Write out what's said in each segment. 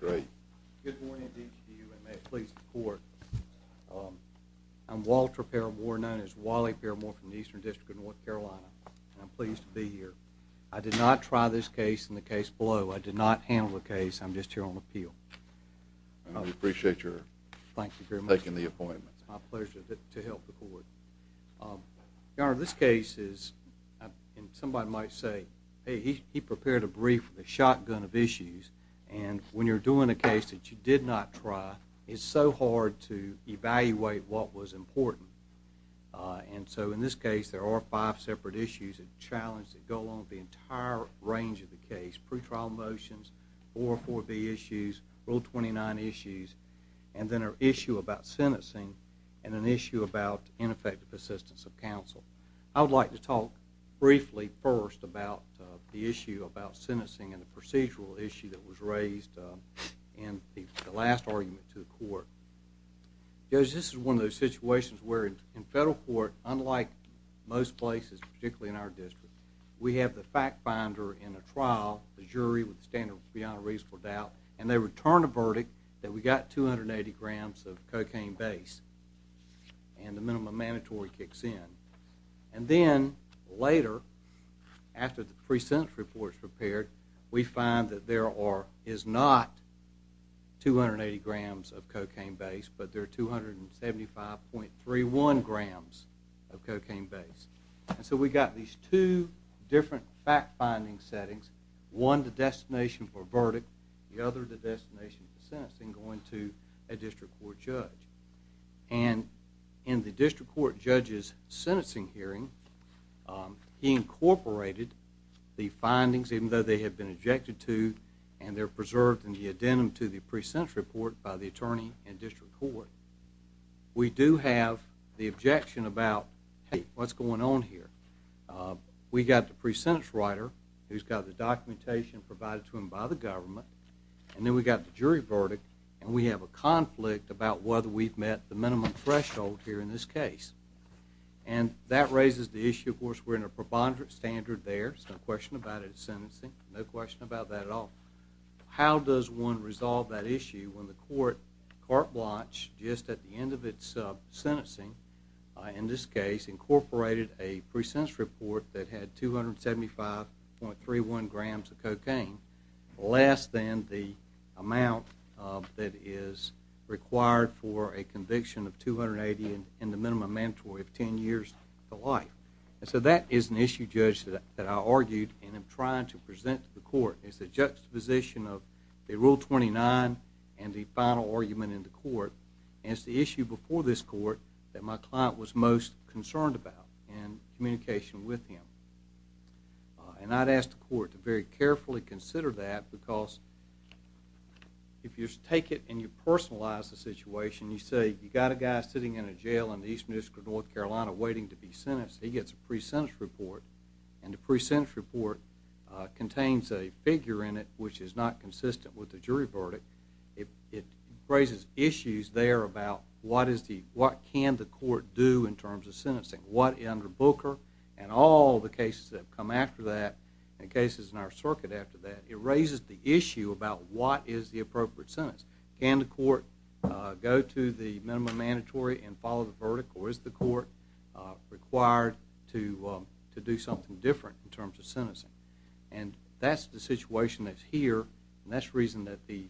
Good morning to each of you, and may it please the court. I'm Walter Peramore, known as Wally Peramore from the Eastern District of North Carolina, and I'm pleased to be here. I did not try this case and the case below. I did not handle the case. I'm just here on appeal. We appreciate your taking the appointment. It's my pleasure to help the court. Your Honor, this case is, and somebody might say, hey, he prepared a brief with a shotgun of issues, and when you're doing a case that you did not try, it's so hard to evaluate what was important. And so in this case, there are five separate issues and challenges that go along with the entire range of the case, pretrial motions, 404B issues, Rule 29 issues, and then an issue about sentencing and an issue about ineffective assistance of counsel. I would like to talk briefly first about the issue about sentencing and the procedural issue that was raised in the last argument to the court. Judge, this is one of those situations where in federal court, unlike most places, particularly in our district, we have the fact finder in a trial, the jury with a standard beyond reasonable doubt, and they return a verdict that we got 280 grams of cocaine base, and the minimum mandatory kicks in. And then later, after the pre-sentence report is prepared, we find that there is not 280 grams of cocaine base, but there are 275.31 grams of cocaine base. And so we got these two different fact-finding settings, one the destination for verdict, the other the destination for sentencing going to a district court judge. And in the district court judge's sentencing hearing, he incorporated the findings, even though they have been objected to, and they're preserved in the addendum to the pre-sentence report by the attorney in district court. We do have the objection about, hey, what's going on here? We got the pre-sentence writer who's got the documentation provided to him by the government, and then we got the jury verdict, and we have a conflict about whether we've met the minimum threshold here in this case. And that raises the issue, of course, we're in a preponderant standard there. There's no question about it at sentencing, no question about that at all. How does one court watch just at the end of its sentencing, in this case, incorporated a pre-sentence report that had 275.31 grams of cocaine, less than the amount that is required for a conviction of 280 and the minimum mandatory of 10 years to life? And so that is an issue, Judge, that I argued and am trying to present to the court, is the juxtaposition of the Rule 29 and the general argument in the court as the issue before this court that my client was most concerned about in communication with him. And I'd ask the court to very carefully consider that, because if you take it and you personalize the situation, you say, you got a guy sitting in a jail in the Eastern District of North Carolina waiting to be sentenced, he gets a pre-sentence report, and the pre-sentence report contains a figure in it which is not raises issues there about what can the court do in terms of sentencing. What under Booker and all the cases that have come after that, and cases in our circuit after that, it raises the issue about what is the appropriate sentence. Can the court go to the minimum mandatory and follow the verdict, or is the court required to do something different in terms of sentencing? And that's the situation that's here, and that's the reason that the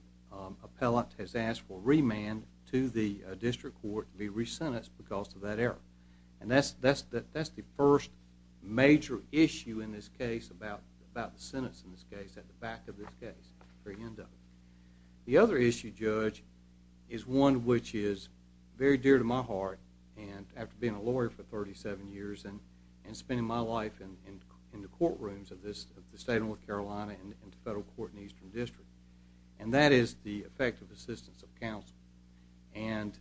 appellant has asked for remand to the district court to be re-sentenced because of that error. And that's the first major issue in this case about the sentence in this case, at the back of this case. The other issue, Judge, is one which is very dear to my heart, and after being a lawyer for the state of North Carolina and the federal court in the Eastern District, and that is the effective assistance of counsel. And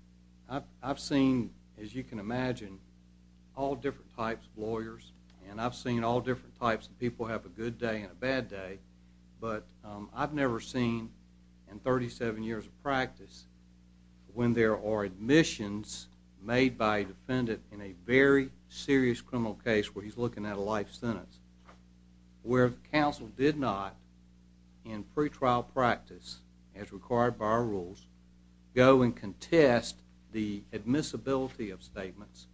I've seen, as you can imagine, all different types of lawyers, and I've seen all different types of people have a good day and a bad day, but I've never seen, in 37 years of practice, when there are admissions made by a defendant in a very serious criminal case where he's looking at a life sentence, where counsel did not, in pretrial practice, as required by our rules, go and contest the admissibility of statements,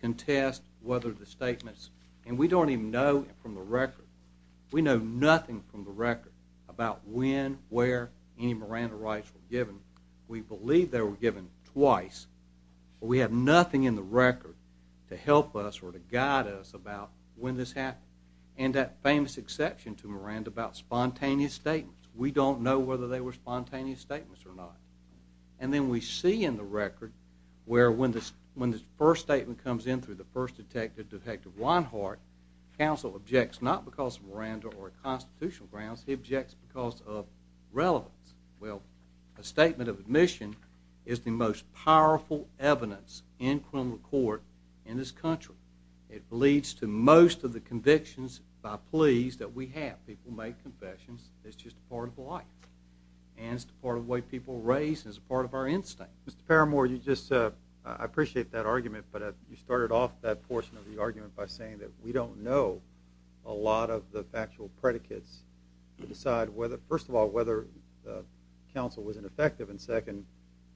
contest whether the statements, and we don't even know from the record, we know nothing from the record about when, where any Miranda rights were given. We believe they were given twice, but we have nothing in the record to help us or to guide us about when this happened. And that famous exception to Miranda about spontaneous statements, we don't know whether they were spontaneous statements or not. And then we see in the record where when the first statement comes in through the first detective, Detective Weinhardt, counsel objects not because of Miranda or constitutional grounds, he objects because of relevance. Well, a statement of admission is the most powerful evidence in criminal court in this country. It leads to most of the convictions by pleas that we have. People make confessions, it's just a part of life, and it's a part of the way people are raised, and it's a part of our instinct. Mr. Parramore, you just, I appreciate that argument, but you started off that portion of the argument by saying that we don't know a lot of the First of all, whether counsel was ineffective, and second,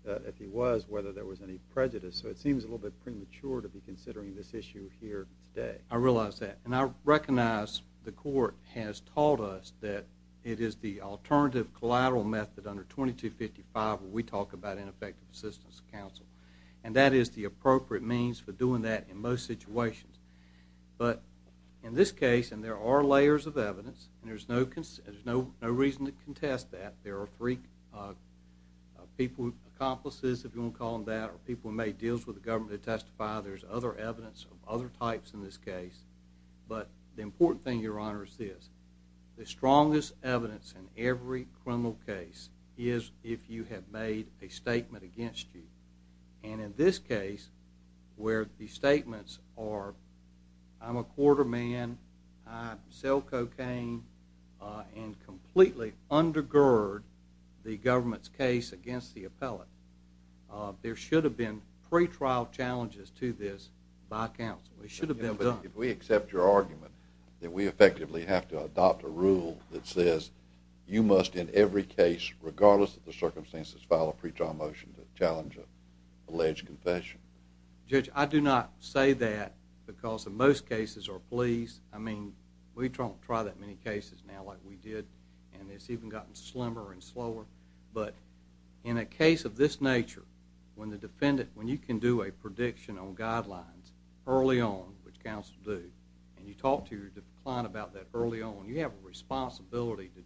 if he was, whether there was any prejudice. So it seems a little bit premature to be considering this issue here today. I realize that. And I recognize the court has taught us that it is the alternative collateral method under 2255 where we talk about ineffective assistance of counsel. And that is the appropriate means for doing that in most situations. But in this case, and there are layers of evidence, and there's no reason to contest that. There are three people, accomplices, if you want to call them that, or people who made deals with the government to testify. There's other evidence of other types in this case. But the important thing, Your Honor, is this. The strongest evidence in every criminal case is if you have made a statement against you. And in this case, where the statements are, I'm a quarter man, I sell cocaine, I'm a man, and completely undergird the government's case against the appellate, there should have been pretrial challenges to this by counsel. It should have been done. But if we accept your argument that we effectively have to adopt a rule that says you must in every case, regardless of the circumstances, file a pretrial motion to challenge an alleged confession? Judge, I do not say that because in most cases our police, I mean, we don't try that many cases now like we did, and it's even gotten slimmer and slower. But in a case of this nature, when the defendant, when you can do a prediction on guidelines early on, which counsel do, and you talk to your client about that early on, you have a responsibility to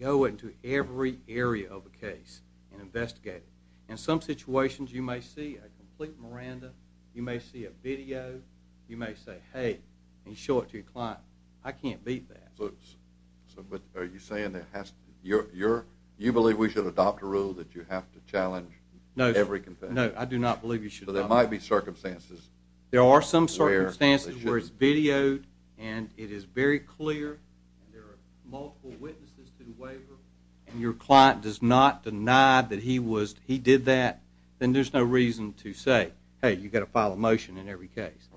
go into every area of a case and investigate it. In some situations, you may see a complete miranda, you may see a video, you may say, hey, and show it to your client, I can't beat that. But are you saying that you believe we should adopt a rule that you have to challenge every confession? No, I do not believe you should adopt it. So there might be circumstances where they should. clear, and there are multiple witnesses to the waiver, and your client does not deny that he was, he did that, then there's no reason to say, hey, you've got to file a motion in every case.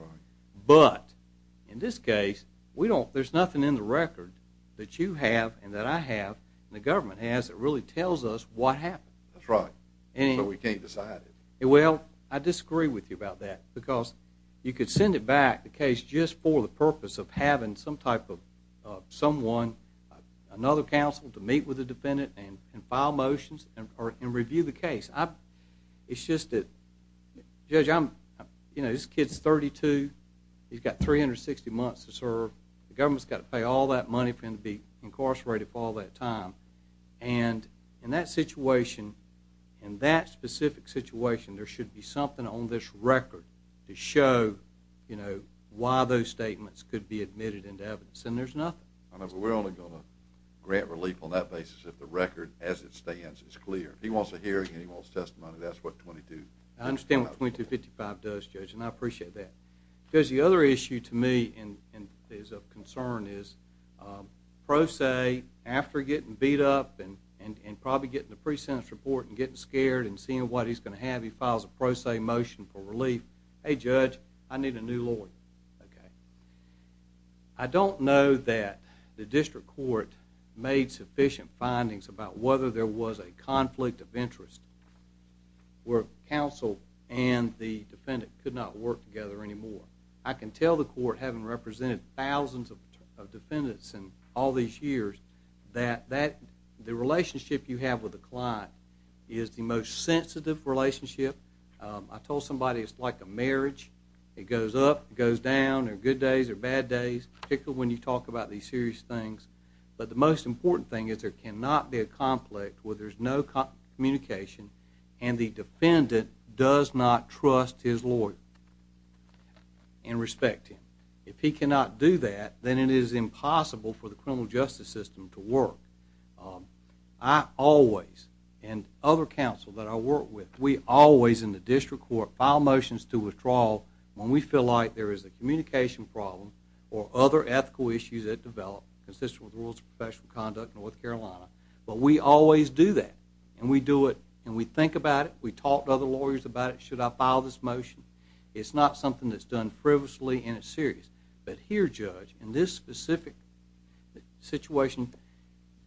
But in this case, we don't, there's nothing in the record that you have and that I have and the government has that really tells us what happened. That's right. So we can't decide it. Well, I disagree with you about that because you could send it back, the case, just for the purpose of having some type of someone, another counsel, to meet with the defendant and file motions and review the case. It's just that, Judge, I'm, you know, this kid's 32, he's got 360 months to serve, the government's got to pay all that money for him to be incarcerated for all that time. And in that situation, in that specific situation, there should be something on this record to show, you know, why those statements could be admitted into evidence, and there's nothing. I know, but we're only going to grant relief on that basis if the record, as it stands, is clear. If he wants a hearing and he wants testimony, that's what 2255 does. I understand what 2255 does, Judge, and I appreciate that. Because the other issue to me is of concern is, pro se, after getting beat up and probably getting a pre-sentence report and getting scared and seeing what he's going to have, he files a pro se motion for relief. Hey, Judge, I need a new lawyer. Okay. I don't know that the district court made sufficient findings about whether there was a conflict of interest where counsel and the defendant could not work together anymore. I can tell the court, having represented thousands of defendants in all these years, that the relationship you have with the client is the most sensitive relationship. I told somebody it's like a marriage. It goes up, it goes down. There are good days, there are bad days, particularly when you talk about these serious things. But the most important thing is there cannot be a conflict where there's no communication and the defendant does not trust his lawyer and respect him. If he cannot do that, then it is impossible for the criminal justice system to work. I always and other counsel that I work with, we always in the district court file motions to withdraw when we feel like there is a communication problem or other ethical issues that develop consistent with and we think about it, we talk to other lawyers about it, should I file this motion? It's not something that's done frivolously and it's serious. But here, Judge, in this specific situation,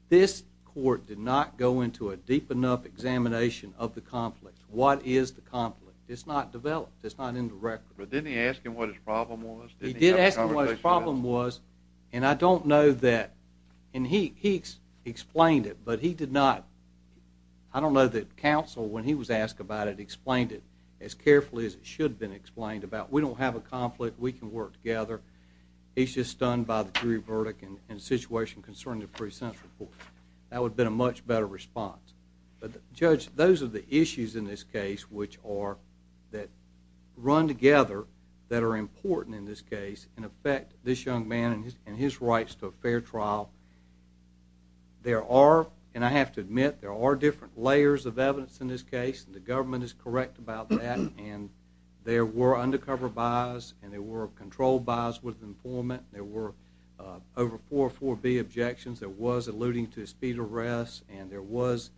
this court did not go into a deep enough examination of the conflict. What is the conflict? It's not developed, it's not in the record. But didn't he ask him what his problem was? He did ask him what his problem was. And I don't know that. And he explained it, but he did not. I don't know that counsel, when he was asked about it, explained it as carefully as it should have been explained about. We don't have a conflict, we can work together. He's just stunned by the jury verdict and the situation concerning the pre-sense report. That would have been a much better response. But Judge, those are the issues in this case which are, that run together, that are important in this case and affect this young man and his rights to a fair trial. There are, and I have to admit, there are different layers of evidence in this case, and the government is correct about that. And there were undercover buys and there were controlled buys with informant. There were over four, four B objections, there was alluding to a speed arrest, and there was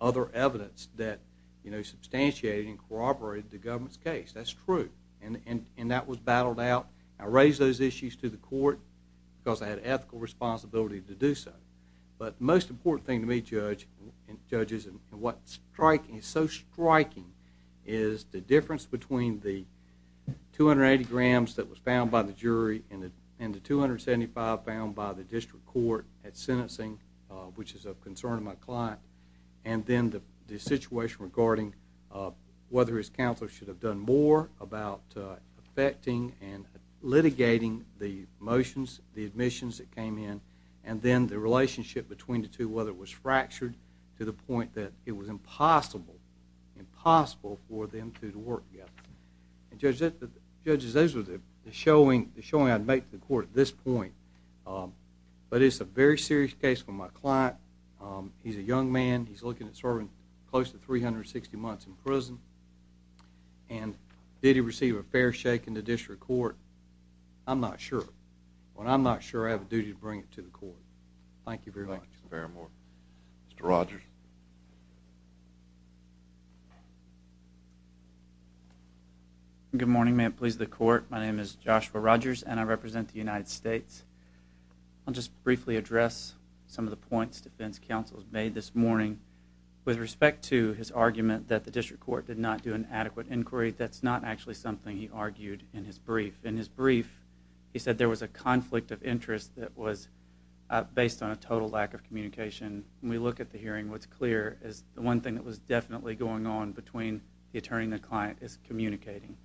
other evidence that, you know, substantiated and corroborated the government's case. That's true. And that was battled out. I raised those issues to the court, because I had ethical responsibility to do so. But most important thing to me, Judge, and judges, and what's striking, so striking, is the difference between the 280 grams that was found by the jury and the 275 found by the district court at sentencing, which is of concern to my client. And then the situation regarding whether his counsel should have done more about affecting and litigating the motions, the admissions that came in, and then the relationship between the two, whether it was fractured to the point that it was impossible, impossible for them to work together. And judges, those were the showing, the showing I'd make to the court at this point. But it's a very serious case for my client. He's a young man. He's looking at serving close to 360 months in prison. And did he receive a fair shake in the district court? I'm not sure. But I'm not sure I have a duty to bring it to the court. Thank you very much. Thank you very much. Mr. Rogers. Good morning, may it please the court. My name is Joshua Rogers, and I represent the United States. I'll just briefly address some of the points defense counsels made this morning with respect to his argument that the district court did not do an adequate inquiry. That's not actually something he argued in his brief. In his brief, he said there was a conflict of interest that was based on a total lack of communication. When we look at the hearing, what's clear is the one thing that was definitely going on between the attorney and the client is communicating.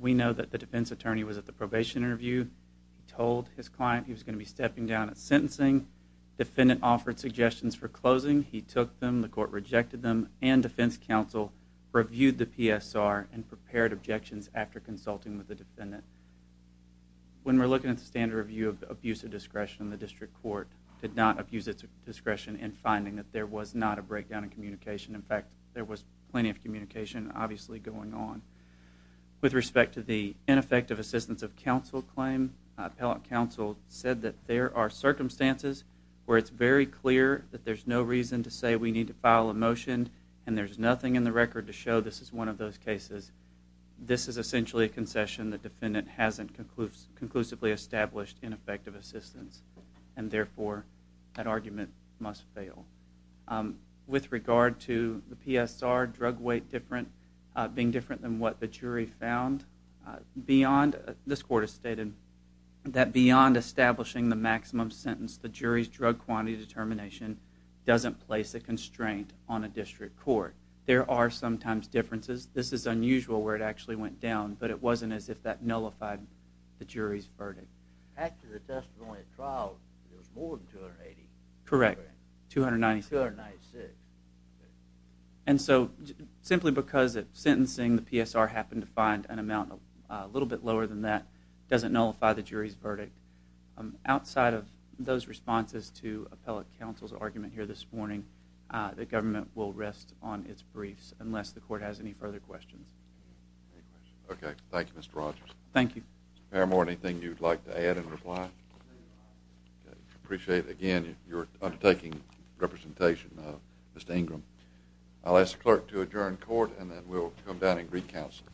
We know that the defense attorney was at the probation interview. He told his client he was going to be stepping down at sentencing. Defendant offered suggestions for closing. He took them. The court rejected them. And defense counsel reviewed the PSR and prepared objections after consulting with the defendant. When we're looking at the standard review of abuse of discretion, the district court did not abuse its discretion in finding that there was not a breakdown in With respect to the ineffective assistance of counsel claim, appellate counsel said that there are circumstances where it's very clear that there's no reason to say we need to file a motion and there's nothing in the record to show this is one of those cases. This is essentially a concession that defendant hasn't conclusively established ineffective assistance. And therefore, that argument must fail. With regard to the PSR drug weight different being different than what the jury found beyond this court has stated that beyond establishing the maximum sentence, the jury's drug quantity determination doesn't place a constraint on a district court. There are sometimes differences. This is unusual where it actually went down, but it wasn't as if that nullified the jury's verdict. After the testimony trial, there was more than the PSR happened to find an amount a little bit lower than that doesn't nullify the jury's verdict. Outside of those responses to appellate counsel's argument here this morning, the government will rest on its briefs unless the court has any further questions. Okay. Thank you, Mr. Rogers. Thank you. More anything you'd like to add and reply. Appreciate again, you're undertaking representation. Mr. Ingram, I'll ask the clerk to adjourn court and then we'll come back to that in Greek counsel.